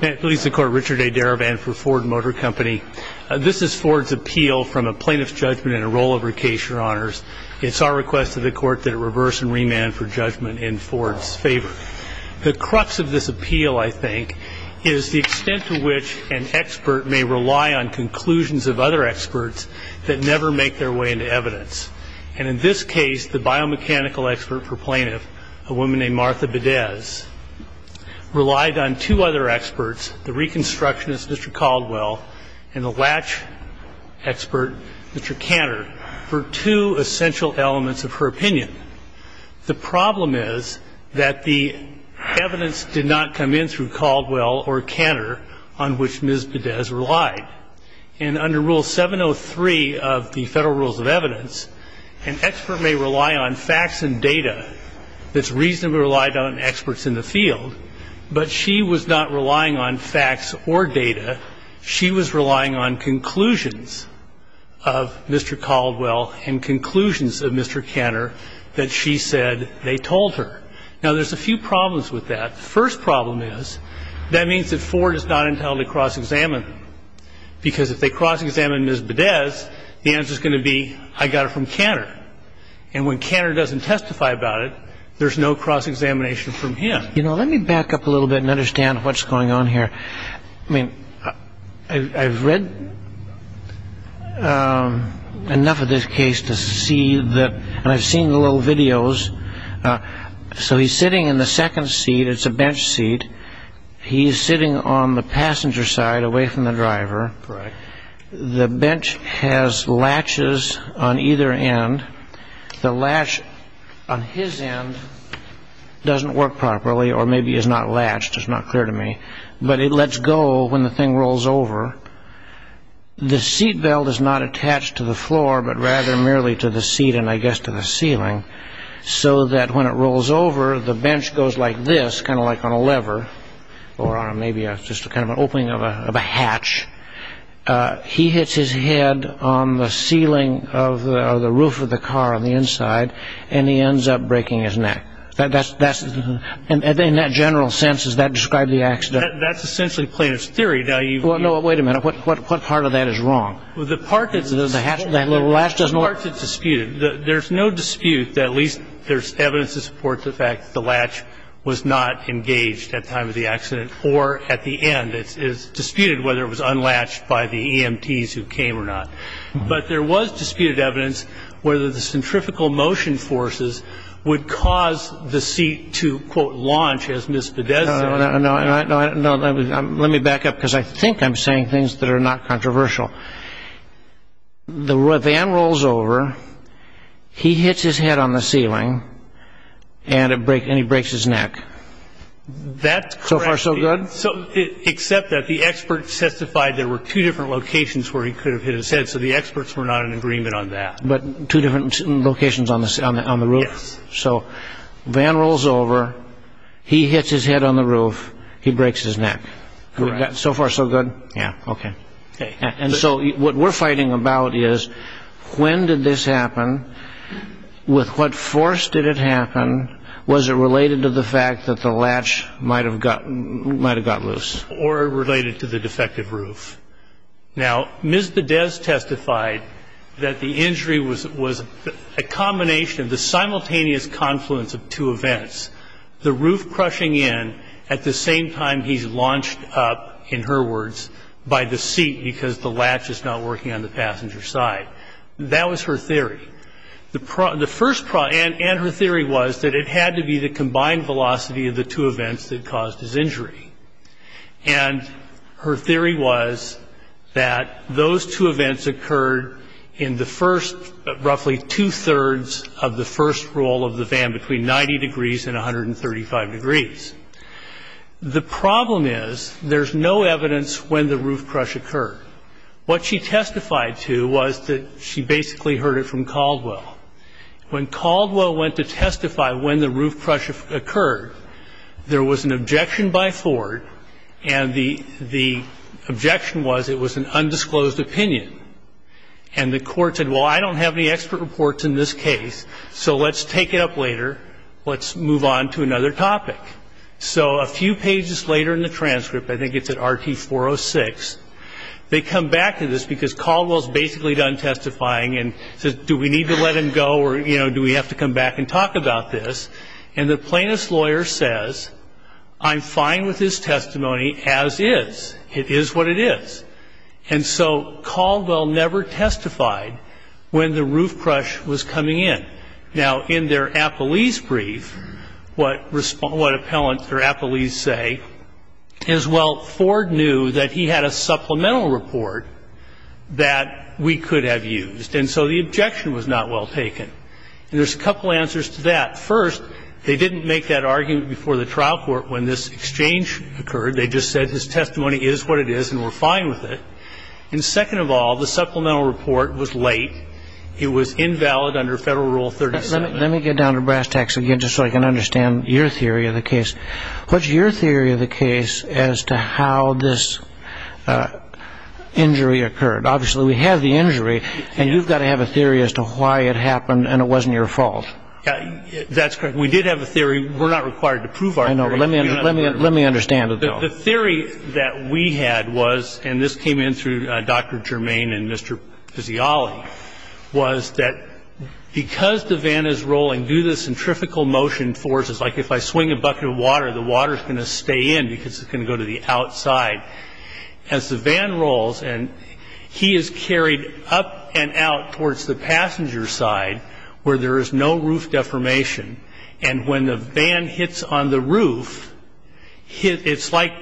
This is Ford's appeal from a plaintiff's judgment in a rollover case, your honors. It's our request to the court that it reverse and remand for judgment in Ford's favor. The crux of this appeal, I think, is the extent to which an expert may rely on conclusions of other experts that never make their way into evidence. And in this case, the biomechanical expert for plaintiff, a woman named Martha Bedez, relied on two other experts, the reconstructionist, Mr. Caldwell, and the latch expert, Mr. Cantor, for two essential elements of her opinion. The problem is that the evidence did not come in through Caldwell or Cantor on which Ms. Bedez relied. And under Rule 703 of the Federal Rules of Evidence, an expert may rely on facts and data that's reasonably relied on in experts in the field, but she was not relying on facts or data. She was relying on conclusions of Mr. Caldwell and conclusions of Mr. Cantor that she said they told her. Now, there's a few problems with that. The first problem is that means that Ford is not entitled to cross-examine, because if they cross-examine Ms. Bedez, the answer is going to be, I got it from Cantor. And when Cantor doesn't testify about it, there's no cross-examination from him. You know, let me back up a little bit and understand what's going on here. I mean, I've read enough of this case to see that, and I've seen the little videos. So he's sitting in the second seat. It's a bench seat. He's sitting on the passenger side away from the driver. Correct. The bench has latches on either end. The latch on his end doesn't work properly or maybe is not latched. It's not clear to me. But it lets go when the thing rolls over. The seat belt is not attached to the floor, but rather merely to the seat and, I guess, to the ceiling, so that when it rolls over, the bench goes like this, kind of like on a lever or maybe just kind of an opening of a hatch. He hits his head on the ceiling of the roof of the car on the inside, and he ends up breaking his neck. In that general sense, does that describe the accident? That's essentially plaintiff's theory. Well, no, wait a minute. What part of that is wrong? The part that's disputed. There's no dispute that at least there's evidence to support the fact that the latch was not engaged at time of the accident or at the end. It's disputed whether it was unlatched by the EMTs who came or not. But there was disputed evidence whether the centrifugal motion forces would cause the seat to, quote, launch, as Ms. Bidez said. No, no, no. Let me back up because I think I'm saying things that are not controversial. The van rolls over, he hits his head on the ceiling, and he breaks his neck. That's correct. So far so good? Except that the experts testified there were two different locations where he could have hit his head, so the experts were not in agreement on that. But two different locations on the roof? Yes. So van rolls over, he hits his head on the roof, he breaks his neck. Correct. So far so good? Yeah. Okay. And so what we're fighting about is when did this happen? With what force did it happen? Was it related to the fact that the latch might have got loose? Or related to the defective roof. Now, Ms. Bidez testified that the injury was a combination, the simultaneous confluence of two events, the roof crushing in at the same time he's launched up, in her words, by the seat because the latch is not working on the passenger side. That was her theory. And her theory was that it had to be the combined velocity of the two events that caused his injury. And her theory was that those two events occurred in the first, roughly two-thirds of the first roll of the van, between 90 degrees and 135 degrees. The problem is there's no evidence when the roof crush occurred. What she testified to was that she basically heard it from Caldwell. When Caldwell went to testify when the roof crush occurred, there was an objection by Ford, and the objection was it was an undisclosed opinion. And the court said, well, I don't have any expert reports in this case, so let's take it up later. Let's move on to another topic. So a few pages later in the transcript, I think it's at RT-406, they come back to this because Caldwell's basically done testifying and says, do we need to let him go or, you know, do we have to come back and talk about this? And the plaintiff's lawyer says, I'm fine with his testimony as is. It is what it is. And so Caldwell never testified when the roof crush was coming in. Now, in their appellee's brief, what appellants or appellees say is, well, Ford knew that he had a supplemental report that we could have used. And so the objection was not well taken. And there's a couple answers to that. First, they didn't make that argument before the trial court when this exchange occurred. They just said his testimony is what it is and we're fine with it. And second of all, the supplemental report was late. It was invalid under Federal Rule 37. Let me get down to brass tacks again just so I can understand your theory of the case. What's your theory of the case as to how this injury occurred? Obviously, we have the injury, and you've got to have a theory as to why it happened and it wasn't your fault. That's correct. We did have a theory. We're not required to prove our theory. I know, but let me understand it, though. The theory that we had was, and this came in through Dr. Germain and Mr. Pizzioli, was that because the van is rolling due to the centrifugal motion forces, like if I swing a bucket of water, the water is going to stay in because it's going to go to the outside. As the van rolls, and he is carried up and out towards the passenger side where there is no roof deformation, and when the van hits on the roof, it's like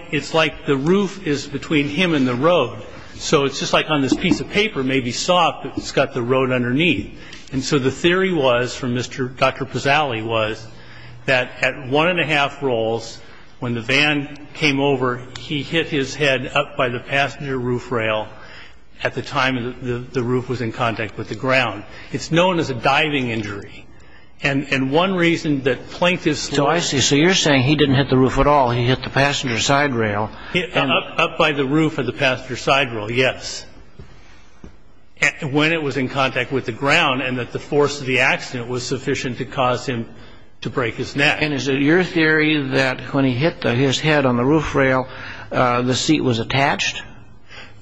the roof is between him and the road. So it's just like on this piece of paper, maybe soft, but it's got the road underneath. And so the theory was from Dr. Pizzioli was that at one and a half rolls, when the van came over, he hit his head up by the passenger roof rail at the time the roof was in contact with the ground. It's known as a diving injury. And one reason that Plankton's story... So you're saying he didn't hit the roof at all. He hit the passenger side rail. Up by the roof of the passenger side rail, yes, when it was in contact with the ground and that the force of the accident was sufficient to cause him to break his neck. And is it your theory that when he hit his head on the roof rail, the seat was attached?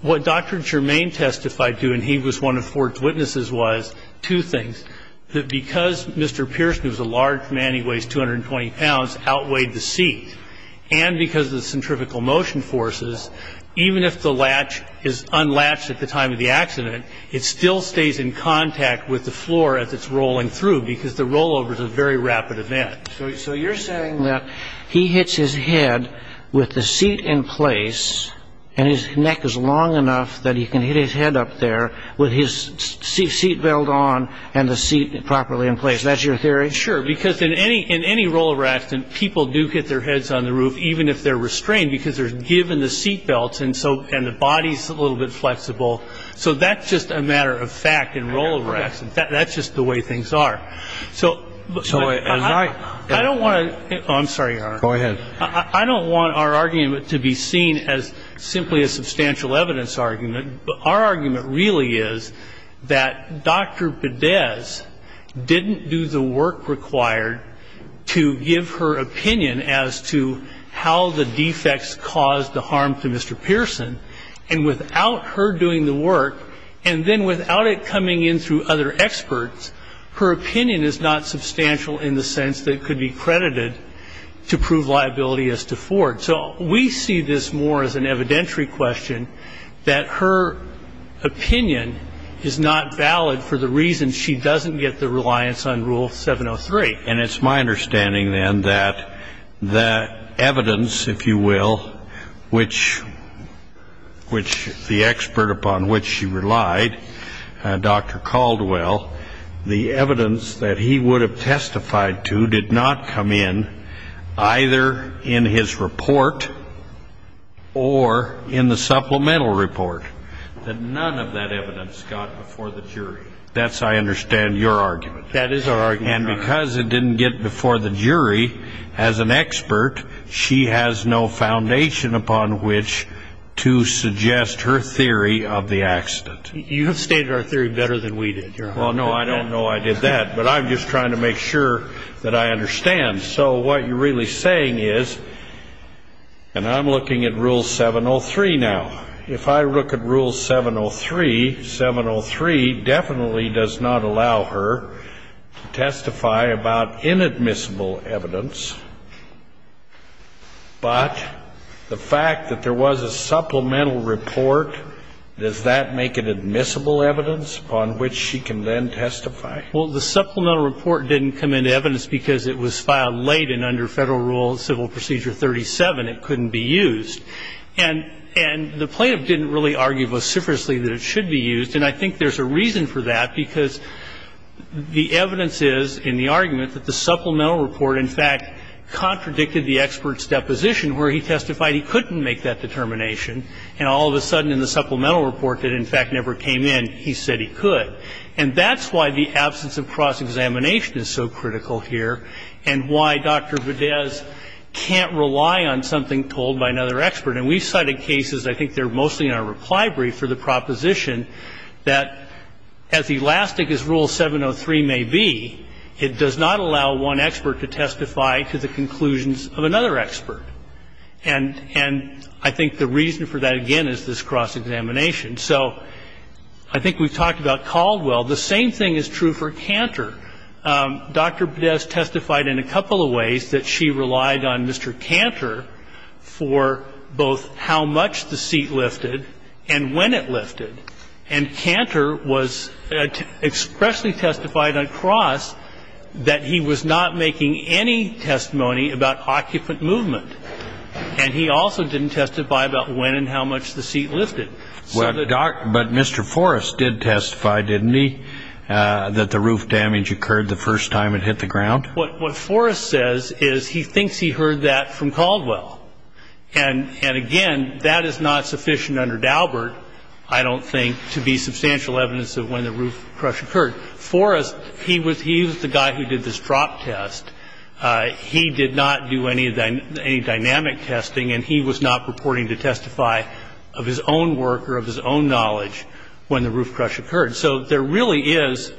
What Dr. Germain testified to, and he was one of Ford's witnesses, was two things. That because Mr. Pearson, who's a large man, he weighs 220 pounds, outweighed the seat, and because of the centrifugal motion forces, even if the latch is unlatched at the time of the accident, it still stays in contact with the floor as it's rolling through because the rollover is a very rapid event. So you're saying that he hits his head with the seat in place, and his neck is long enough that he can hit his head up there with his seat belt on and the seat properly in place. Is that your theory? Sure. Because in any rollover accident, people do hit their heads on the roof, even if they're restrained because they're given the seat belt and the body's a little bit flexible. So that's just a matter of fact in rollover accidents. That's just the way things are. So I don't want to – oh, I'm sorry, Your Honor. Go ahead. I don't want our argument to be seen as simply a substantial evidence argument. Our argument really is that Dr. Pedez didn't do the work required to give her opinion as to how the defects caused the harm to Mr. Pearson, and without her doing the work and then without it coming in through other experts, her opinion is not substantial in the sense that it could be credited to prove liability as to Ford. So we see this more as an evidentiary question that her opinion is not valid for the reason she doesn't get the reliance on Rule 703. And it's my understanding, then, that the evidence, if you will, which the expert upon which she relied, Dr. Caldwell, the evidence that he would have testified to did not come in either in his report or in the supplemental report, that none of that evidence got before the jury. That's, I understand, your argument. That is our argument, Your Honor. And because it didn't get before the jury, as an expert, she has no foundation upon which to suggest her theory of the accident. You have stated our theory better than we did, Your Honor. Well, no, I don't know I did that, but I'm just trying to make sure that I understand. So what you're really saying is, and I'm looking at Rule 703 now. If I look at Rule 703, 703 definitely does not allow her to testify about inadmissible evidence, but the fact that there was a supplemental report, does that make it admissible evidence upon which she can then testify? Well, the supplemental report didn't come into evidence because it was filed late and under Federal Rule Civil Procedure 37. It couldn't be used. And the plaintiff didn't really argue vociferously that it should be used. And I think there's a reason for that, because the evidence is in the argument that the supplemental report, in fact, contradicted the expert's deposition, where he testified he couldn't make that determination, and all of a sudden in the supplemental report that, in fact, never came in, he said he could. And that's why the absence of cross-examination is so critical here and why Dr. Badez can't rely on something told by another expert. And we've cited cases, I think they're mostly in our reply brief, for the proposition that as elastic as Rule 703 may be, it does not allow one expert to testify to the conclusions of another expert. And I think the reason for that, again, is this cross-examination. So I think we've talked about Caldwell. The same thing is true for Cantor. Dr. Badez testified in a couple of ways that she relied on Mr. Cantor for both how much the seat lifted and when it lifted. And Cantor was expressly testified on cross that he was not making any testimony about occupant movement. And he also didn't testify about when and how much the seat lifted. But Mr. Forrest did testify, didn't he, that the roof damage occurred the first time it hit the ground? What Forrest says is he thinks he heard that from Caldwell. And, again, that is not sufficient under Daubert. I don't think to be substantial evidence of when the roof crush occurred. Forrest, he was the guy who did this drop test. He did not do any dynamic testing. And he was not purporting to testify of his own work or of his own knowledge when the roof crush occurred. So there really is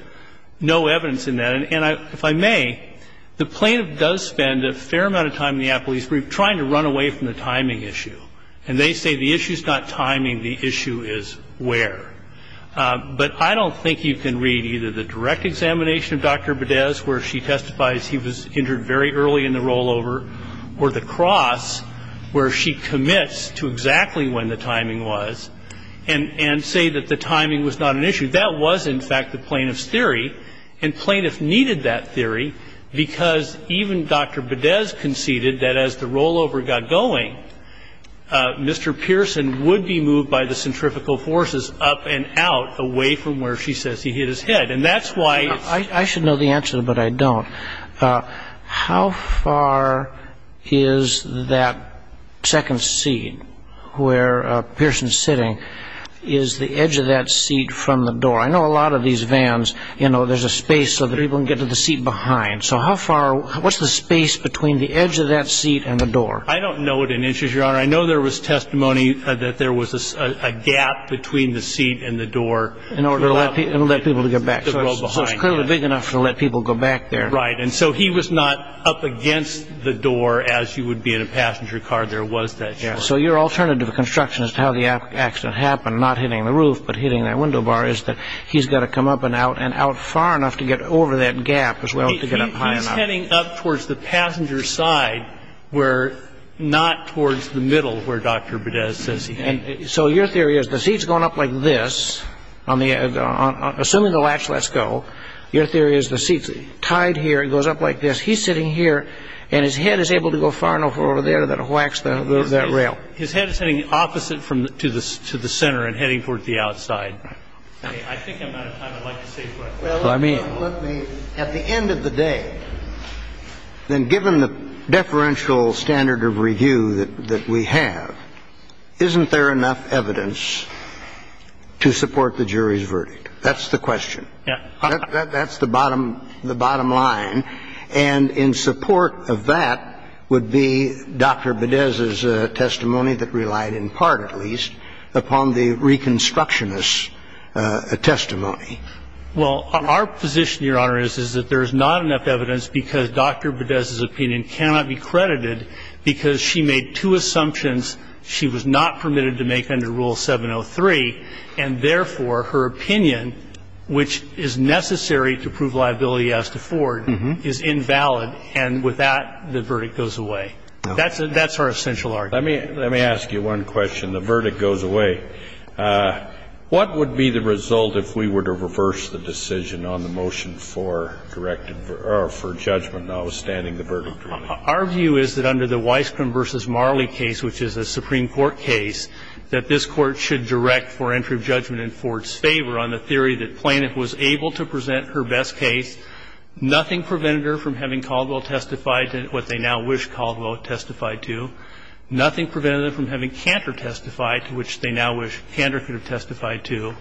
no evidence in that. And if I may, the plaintiff does spend a fair amount of time in the appeals brief trying to run away from the timing issue. And they say the issue is not timing. The issue is where. But I don't think you can read either the direct examination of Dr. Bedez, where she testifies he was injured very early in the rollover, or the cross where she commits to exactly when the timing was and say that the timing was not an issue. That was, in fact, the plaintiff's theory. And plaintiff needed that theory because even Dr. Bedez conceded that as the rollover got going, Mr. Pearson would be moved by the centrifugal forces up and out away from where she says he hit his head. And that's why. I should know the answer, but I don't. How far is that second seat where Pearson's sitting is the edge of that seat from the door? I know a lot of these vans, you know, there's a space so that people can get to the seat behind. So how far, what's the space between the edge of that seat and the door? I don't know it in inches, Your Honor. I know there was testimony that there was a gap between the seat and the door. In order to let people to get back. So it's clearly big enough to let people go back there. Right. And so he was not up against the door as you would be in a passenger car. There was that gap. So your alternative construction as to how the accident happened, not hitting the roof but hitting that window bar, is that he's got to come up and out and out far enough to get over that gap as well to get up high enough. He's heading up towards the passenger side where not towards the middle where Dr. Bedez says he had. So your theory is the seat's going up like this, assuming the latch lets go, your theory is the seat's tied here, it goes up like this. He's sitting here and his head is able to go far enough over there that it whacks that rail. His head is heading opposite to the center and heading towards the outside. Right. I think I'm out of time. I'd like to save questions. Well, let me. At the end of the day, then, given the deferential standard of review that we have, isn't there enough evidence to support the jury's verdict? That's the question. Yeah. That's the bottom line. And in support of that would be Dr. Bedez's testimony that relied in part, at least, upon the reconstructionist testimony. Well, our position, Your Honor, is that there's not enough evidence because Dr. Bedez's opinion cannot be credited because she made two assumptions she was not permitted to make under Rule 703, and therefore her opinion, which is necessary to prove liability as to Ford, is invalid. And with that, the verdict goes away. That's our essential argument. Let me ask you one question. The verdict goes away. What would be the result if we were to reverse the decision on the motion for directive or for judgment notwithstanding the verdict? Our view is that under the Weisskrim v. Marley case, which is a Supreme Court case, that this Court should direct for entry of judgment in Ford's favor on the theory that Planet was able to present her best case. Nothing prevented her from having Caldwell testify to what they now wish Caldwell testified to. Nothing prevented them from having Cantor testify to which they now wish Cantor could have testified to,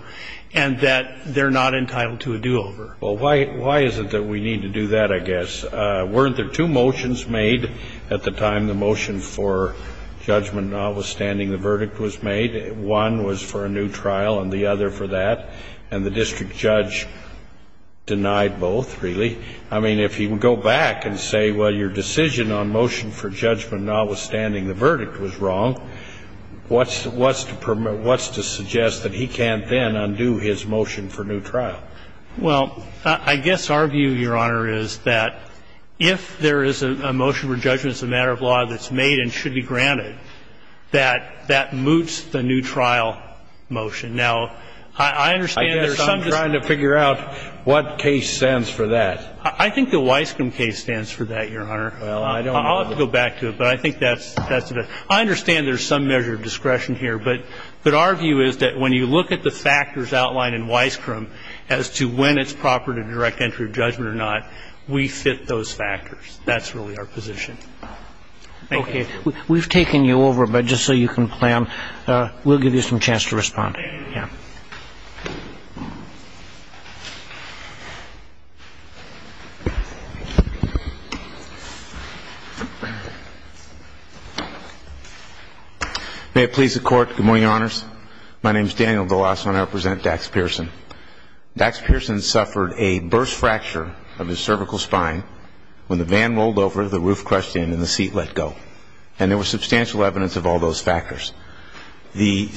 and that they're not entitled to a do-over. Well, why is it that we need to do that, I guess? Weren't there two motions made at the time the motion for judgment notwithstanding the verdict was made? One was for a new trial and the other for that. And the district judge denied both, really. I mean, if he would go back and say, well, your decision on motion for judgment notwithstanding the verdict was wrong, what's to suggest that he can't then undo his motion for new trial? Well, I guess our view, Your Honor, is that if there is a motion for judgment that's a matter of law that's made and should be granted, that that moots the new trial motion. Now, I understand there's some justice. What case stands for that? I think the Weisskram case stands for that, Your Honor. Well, I don't know. I'll have to go back to it, but I think that's the best. I understand there's some measure of discretion here, but our view is that when you look at the factors outlined in Weisskram as to when it's proper to direct entry of judgment or not, we fit those factors. That's really our position. Thank you. Okay. May it please the Court. Good morning, Your Honors. My name is Daniel DeLasso, and I represent Dax Pearson. Dax Pearson suffered a burst fracture of his cervical spine when the van rolled over, the roof crushed in, and the seat let go. And there was substantial evidence of all those factors. Dr.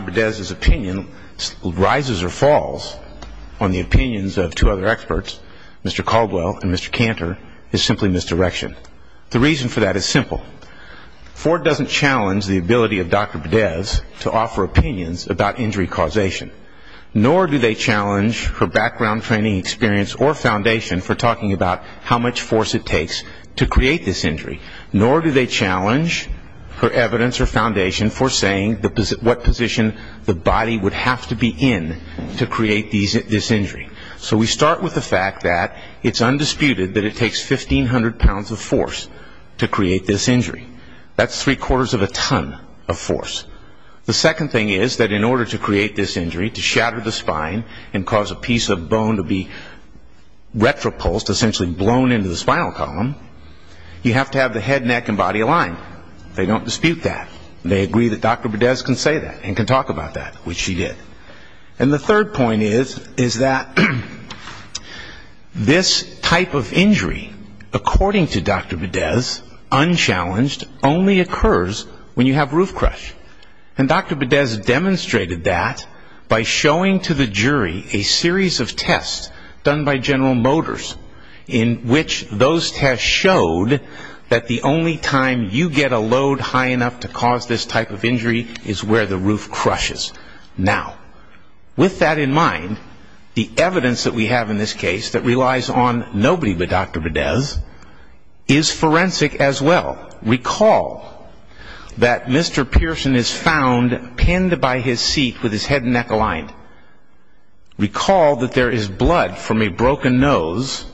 Bodez's opinion rises or falls on the opinions of two other experts, Mr. Caldwell and Mr. Cantor, is simply misdirection. The reason for that is simple. Ford doesn't challenge the ability of Dr. Bodez to offer opinions about injury causation. Nor do they challenge her background training experience or foundation for talking about how much force it takes to create this injury. Nor do they challenge her evidence or foundation for saying what position the body would have to be in to create this injury. So we start with the fact that it's undisputed that it takes 1,500 pounds of force to create this injury. That's three-quarters of a ton of force. The second thing is that in order to create this injury, to shatter the spine and cause a piece of bone to be blown into the spinal column, you have to have the head, neck, and body aligned. They don't dispute that. They agree that Dr. Bodez can say that and can talk about that, which she did. And the third point is that this type of injury, according to Dr. Bodez, unchallenged, only occurs when you have roof crush. And Dr. Bodez demonstrated that by showing to the jury a series of tests done by General Motors in which those tests showed that the only time you get a load high enough to cause this type of injury is where the roof crushes. Now, with that in mind, the evidence that we have in this case that relies on nobody but Dr. Bodez is forensic as well. Recall that Mr. Pearson is found pinned by his seat with his head and neck aligned. Recall that there is blood from a broken nose.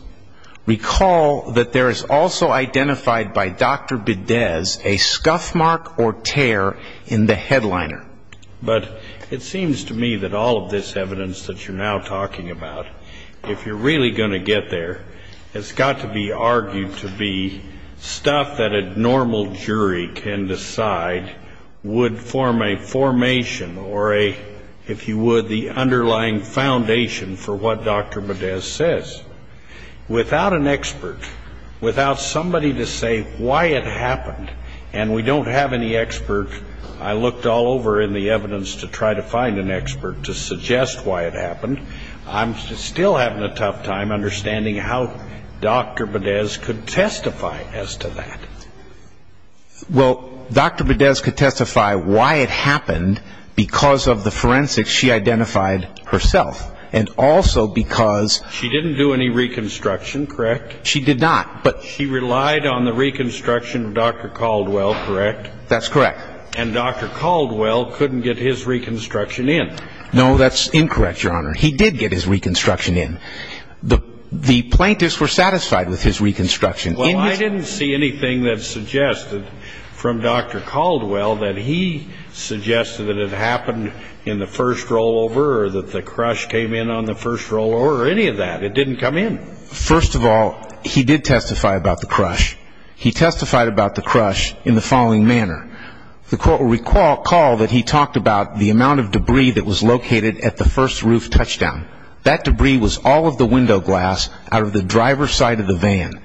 Recall that there is also identified by Dr. Bodez a scuff mark or tear in the headliner. But it seems to me that all of this evidence that you're now talking about, if you're really going to get there, has got to be argued to be stuff that a normal jury can decide would form a formation or a, if you would, the underlying foundation for what Dr. Bodez says. Without an expert, without somebody to say why it happened, and we don't have any expert. I looked all over in the evidence to try to find an expert to suggest why it happened. I'm still having a tough time understanding how Dr. Bodez could testify as to that. Well, Dr. Bodez could testify why it happened because of the forensics she identified herself and also because... She didn't do any reconstruction, correct? She did not, but... She relied on the reconstruction of Dr. Caldwell, correct? That's correct. And Dr. Caldwell couldn't get his reconstruction in. No, that's incorrect, Your Honor. He did get his reconstruction in. The plaintiffs were satisfied with his reconstruction. Well, I didn't see anything that suggested from Dr. Caldwell that he suggested that it happened in the first rollover or that the crush came in on the first rollover or any of that. It didn't come in. First of all, he did testify about the crush. He testified about the crush in the following manner. The court will recall that he talked about the amount of debris that was located at the first roof touchdown. That debris was all of the window glass out of the driver's side of the van.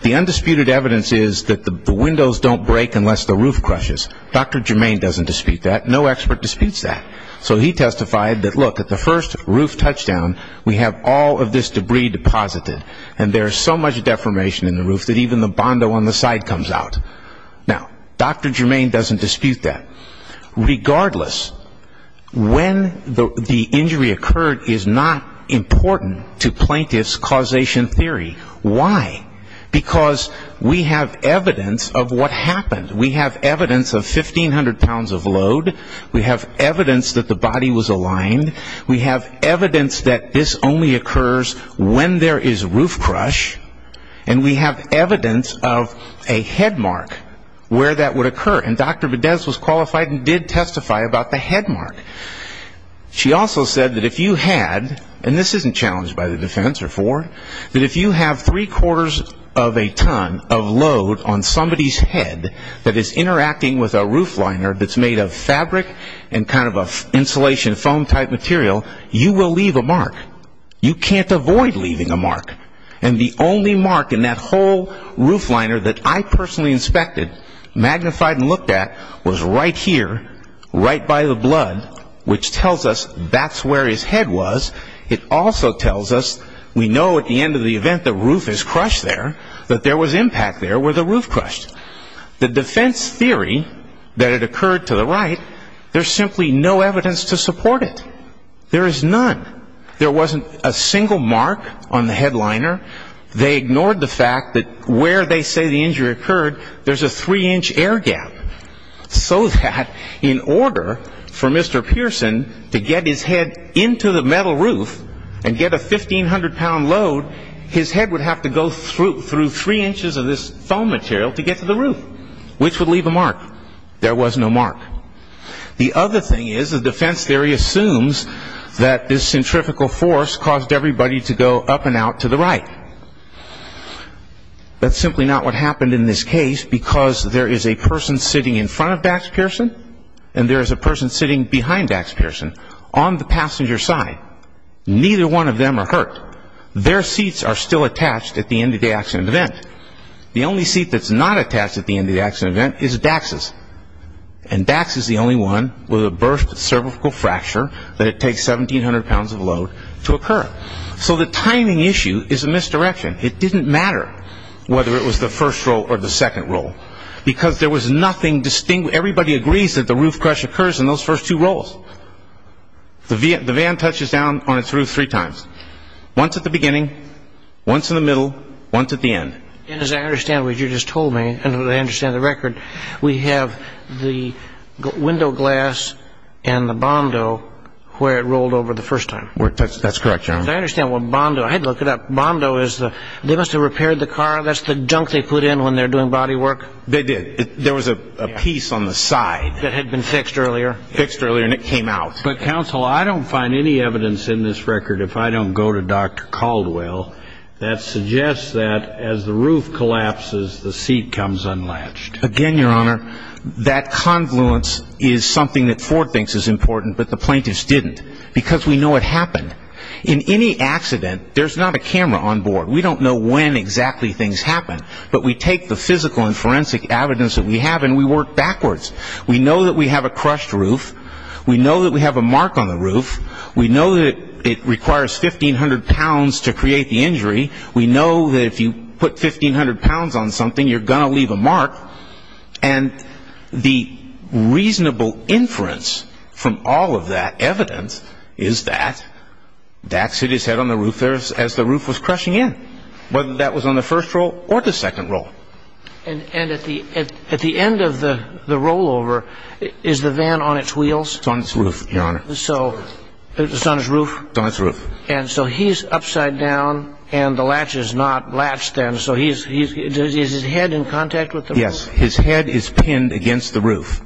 The undisputed evidence is that the windows don't break unless the roof crushes. Dr. Germain doesn't dispute that. No expert disputes that. So he testified that, look, at the first roof touchdown, we have all of this debris deposited, and there is so much deformation in the roof that even the bondo on the side comes out. Now, Dr. Germain doesn't dispute that. Regardless, when the injury occurred is not important to plaintiff's causation theory. Why? Because we have evidence of what happened. We have evidence of 1,500 pounds of load. We have evidence that the body was aligned. We have evidence that this only occurs when there is roof crush. And we have evidence of a head mark where that would occur. And Dr. Videz was qualified and did testify about the head mark. She also said that if you had, and this isn't challenged by the defense or for, that if you have three-quarters of a ton of load on somebody's head that is interacting with a roof liner that's made of fabric and kind of an insulation foam-type material, you will leave a mark. You can't avoid leaving a mark. And the only mark in that whole roof liner that I personally inspected, magnified and looked at, was right here, right by the blood, which tells us that's where his head was. It also tells us we know at the end of the event the roof is crushed there, that there was impact there where the roof crushed. The defense theory that it occurred to the right, there's simply no evidence to support it. There is none. There wasn't a single mark on the head liner. They ignored the fact that where they say the injury occurred, there's a three-inch air gap, so that in order for Mr. Pearson to get his head into the metal roof and get a 1,500-pound load, his head would have to go through three inches of this foam material to get to the roof, which would leave a mark. There was no mark. The other thing is the defense theory assumes that this centrifugal force caused everybody to go up and out to the right. That's simply not what happened in this case because there is a person sitting in front of Dax Pearson and there is a person sitting behind Dax Pearson on the passenger side. Neither one of them are hurt. Their seats are still attached at the end of the accident event. The only seat that's not attached at the end of the accident event is Dax's. And Dax is the only one with a burst cervical fracture that it takes 1,700 pounds of load to occur. So the timing issue is a misdirection. It didn't matter whether it was the first roll or the second roll because there was nothing distinct. Everybody agrees that the roof crush occurs in those first two rolls. The van touches down on its roof three times, once at the beginning, once in the middle, once at the end. And as I understand what you just told me, and I understand the record, we have the window glass and the Bondo where it rolled over the first time. That's correct, Your Honor. I understand what Bondo. I had to look it up. Bondo is the they must have repaired the car. That's the junk they put in when they're doing body work. They did. There was a piece on the side. That had been fixed earlier. Fixed earlier and it came out. But, counsel, I don't find any evidence in this record, if I don't go to Dr. Caldwell, that suggests that as the roof collapses, the seat comes unlatched. Again, Your Honor, that confluence is something that Ford thinks is important but the plaintiffs didn't because we know it happened. In any accident, there's not a camera on board. We don't know when exactly things happen, but we take the physical and forensic evidence that we have and we work backwards. We know that we have a crushed roof. We know that we have a mark on the roof. We know that it requires 1,500 pounds to create the injury. We know that if you put 1,500 pounds on something, you're going to leave a mark. And the reasonable inference from all of that evidence is that Dax hit his head on the roof there as the roof was crushing in, whether that was on the first roll or the second roll. And at the end of the rollover, is the van on its wheels? It's on its roof, Your Honor. So it's on its roof? It's on its roof. And so he's upside down and the latch is not latched then, so is his head in contact with the roof? Yes, his head is pinned against the roof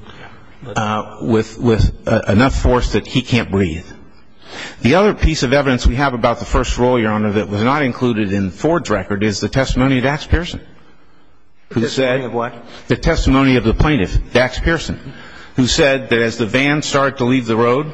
with enough force that he can't breathe. The other piece of evidence we have about the first roll, Your Honor, that was not included in Ford's record is the testimony of Dax Pearson. The testimony of what? The testimony of the plaintiff, Dax Pearson, who said that as the van started to leave the road,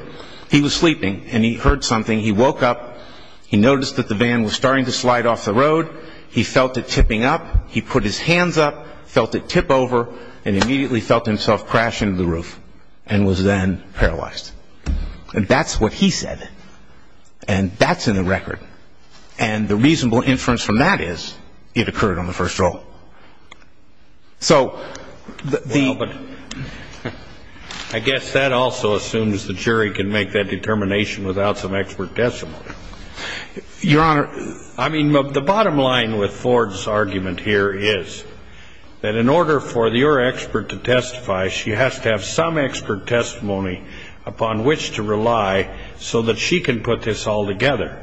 he was sleeping and he heard something. He woke up. He noticed that the van was starting to slide off the road. He felt it tipping up. He put his hands up, felt it tip over, and immediately felt himself crash into the roof and was then paralyzed. And that's what he said. And that's in the record. And the reasonable inference from that is it occurred on the first roll. So the... Well, but I guess that also assumes the jury can make that determination without some expert testimony. Your Honor, I mean, the bottom line with Ford's argument here is that in order for your expert to testify, she has to have some expert testimony upon which to rely so that she can put this all together.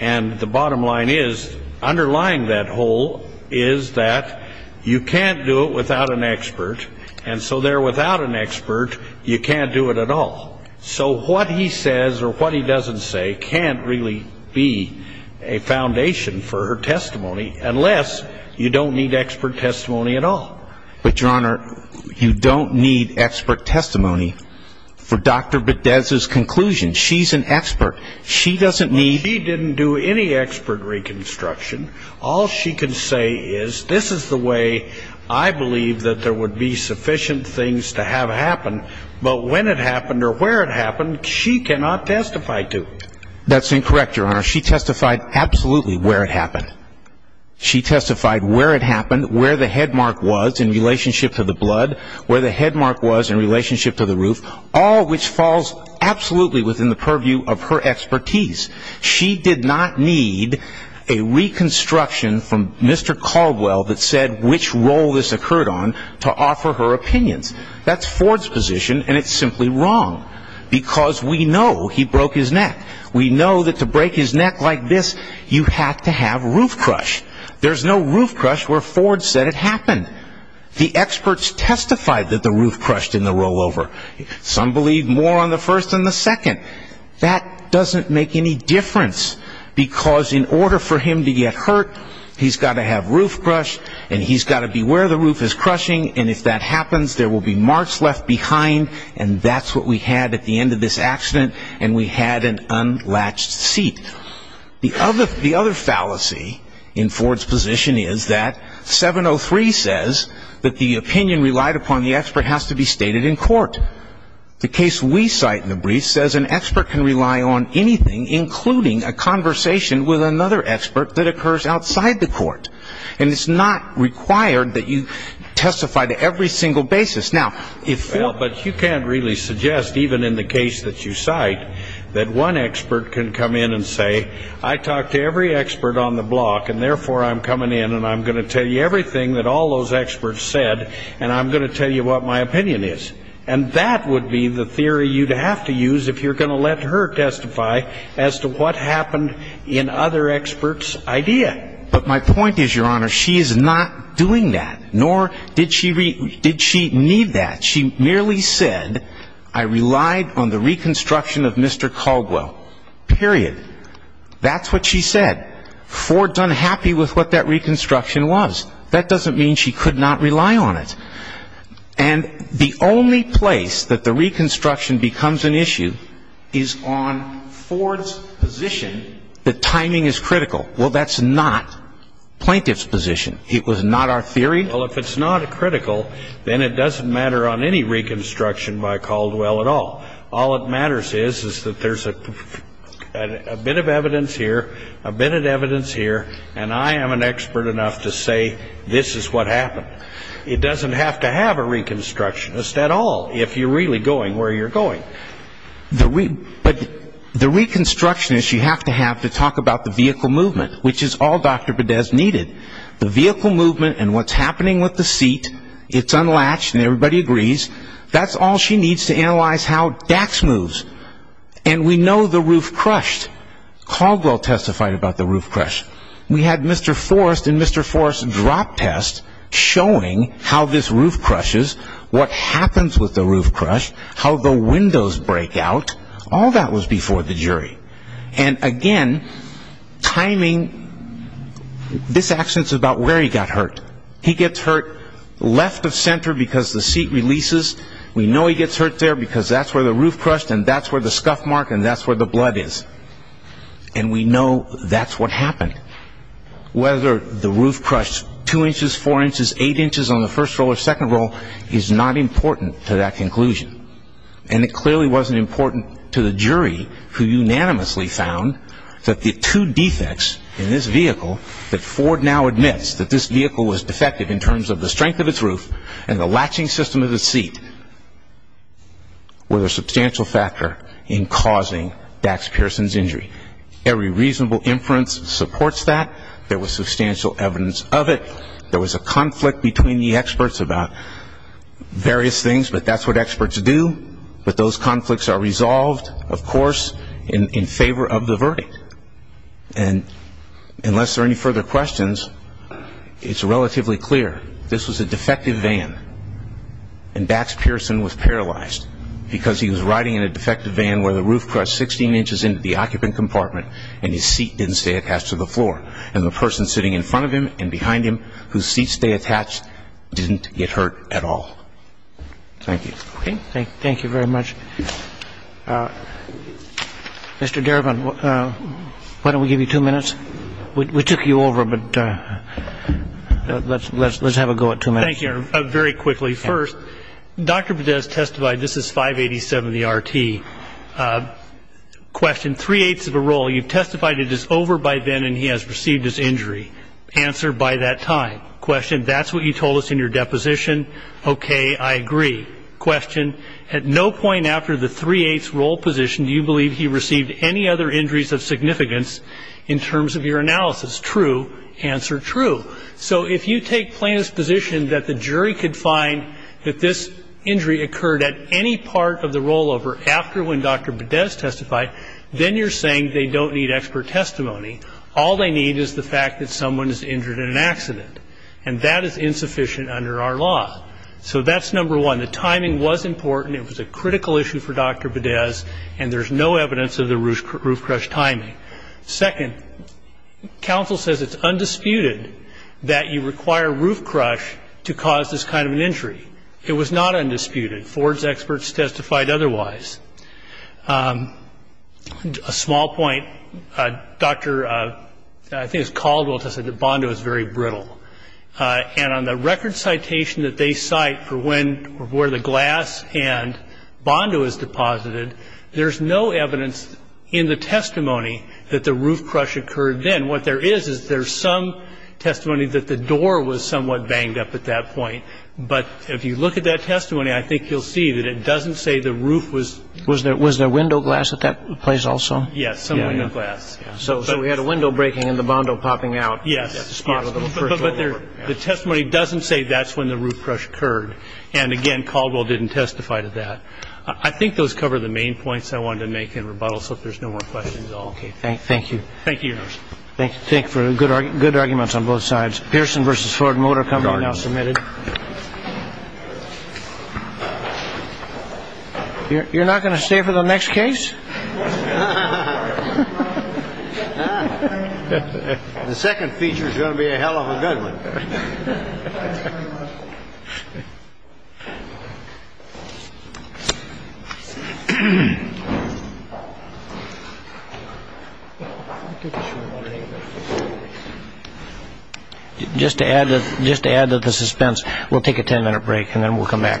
And the bottom line is underlying that whole is that you can't do it without an expert, and so there without an expert, you can't do it at all. So what he says or what he doesn't say can't really be a foundation for her testimony unless you don't need expert testimony at all. But, Your Honor, you don't need expert testimony for Dr. Bedez's conclusion. She's an expert. She doesn't need... She didn't do any expert reconstruction. All she can say is this is the way I believe that there would be sufficient things to have happen, but when it happened or where it happened, she cannot testify to it. That's incorrect, Your Honor. She testified absolutely where it happened. She testified where it happened, where the headmark was in relationship to the blood, where the headmark was in relationship to the roof, all which falls absolutely within the purview of her expertise. She did not need a reconstruction from Mr. Caldwell that said which role this occurred on to offer her opinions. That's Ford's position, and it's simply wrong because we know he broke his neck. We know that to break his neck like this, you have to have roof crush. There's no roof crush where Ford said it happened. The experts testified that the roof crushed in the rollover. Some believe more on the first than the second. That doesn't make any difference because in order for him to get hurt, he's got to have roof crush, and he's got to be where the roof is crushing, and if that happens, there will be marks left behind, and that's what we had at the end of this accident, and we had an unlatched seat. The other fallacy in Ford's position is that 703 says that the opinion relied upon the expert has to be stated in court. The case we cite in the brief says an expert can rely on anything, including a conversation with another expert that occurs outside the court, and it's not required that you testify to every single basis. But you can't really suggest, even in the case that you cite, that one expert can come in and say, I talked to every expert on the block, and therefore I'm coming in, and I'm going to tell you everything that all those experts said, and I'm going to tell you what my opinion is. And that would be the theory you'd have to use if you're going to let her testify as to what happened in other experts' idea. But my point is, Your Honor, she is not doing that, nor did she need that. She merely said, I relied on the reconstruction of Mr. Caldwell, period. That's what she said. Ford's unhappy with what that reconstruction was. That doesn't mean she could not rely on it. And the only place that the reconstruction becomes an issue is on Ford's position that timing is critical. Well, that's not plaintiff's position. It was not our theory. Well, if it's not critical, then it doesn't matter on any reconstruction by Caldwell at all. All that matters is that there's a bit of evidence here, a bit of evidence here, and I am an expert enough to say this is what happened. It doesn't have to have a reconstructionist at all if you're really going where you're going. But the reconstructionist you have to have to talk about the vehicle movement, which is all Dr. Bedez needed. The vehicle movement and what's happening with the seat, it's unlatched and everybody agrees, that's all she needs to analyze how Dax moves. And we know the roof crushed. Caldwell testified about the roof crush. We had Mr. Forrest and Mr. Forrest's drop test showing how this roof crushes, what happens with the roof crush, how the windows break out. All that was before the jury. And, again, timing, this accident's about where he got hurt. He gets hurt left of center because the seat releases. We know he gets hurt there because that's where the roof crushed and that's where the scuff mark and that's where the blood is. And we know that's what happened. Whether the roof crushed two inches, four inches, eight inches on the first roll or second roll is not important to that conclusion. And it clearly wasn't important to the jury who unanimously found that the two defects in this vehicle that Ford now admits that this vehicle was defective in terms of the strength of its roof and the latching system of its seat were the substantial factor in causing Dax Pearson's injury. Every reasonable inference supports that. There was substantial evidence of it. There was a conflict between the experts about various things, but that's what experts do. But those conflicts are resolved, of course, in favor of the verdict. And unless there are any further questions, it's relatively clear this was a defective van and Dax Pearson was paralyzed because he was riding in a defective van where the roof crushed 16 inches into the occupant compartment and his seat didn't stay attached to the floor. And the person sitting in front of him and behind him whose seats stay attached didn't get hurt at all. Thank you. Okay. Thank you very much. Mr. Derivan, why don't we give you two minutes? We took you over, but let's have a go at two minutes. Thank you, Your Honor. Very quickly. First, Dr. Bedez testified, this is 587 of the RT. Question, three-eighths of a roll. You've testified it is over by then and he has received his injury. Answer, by that time. Question, that's what you told us in your deposition. Okay, I agree. Question, at no point after the three-eighths roll position do you believe he received any other injuries of significance in terms of your analysis. True. Answer, true. So if you take plaintiff's position that the jury could find that this injury occurred at any part of the rollover after when Dr. Bedez testified, then you're saying they don't need expert testimony. All they need is the fact that someone is injured in an accident, and that is insufficient under our law. So that's number one. The timing was important. It was a critical issue for Dr. Bedez, and there's no evidence of the roof crush timing. Second, counsel says it's undisputed that you require roof crush to cause this kind of an injury. It was not undisputed. Ford's experts testified otherwise. A small point, Dr. I think it was Caldwell who said that Bondo is very brittle, and on the record citation that they cite for when or where the glass and Bondo is deposited, there's no evidence in the testimony that the roof crush occurred then. What there is is there's some testimony that the door was somewhat banged up at that point, but if you look at that testimony, I think you'll see that it doesn't say the roof was... Was there window glass at that place also? Yes, some window glass. So we had a window breaking and the Bondo popping out. Yes, but the testimony doesn't say that's when the roof crush occurred, and, again, Caldwell didn't testify to that. I think those cover the main points I wanted to make in rebuttal, so if there's no more questions, I'll... Okay, thank you. Thank you, Your Honor. Thank you for good arguments on both sides. Pearson v. Ford Motor Company now submitted. You're not going to stay for the next case? The second feature is going to be a hell of a good one. Thank you. Just to add to the suspense, we'll take a ten-minute break and then we'll come back. Thank you. All rise.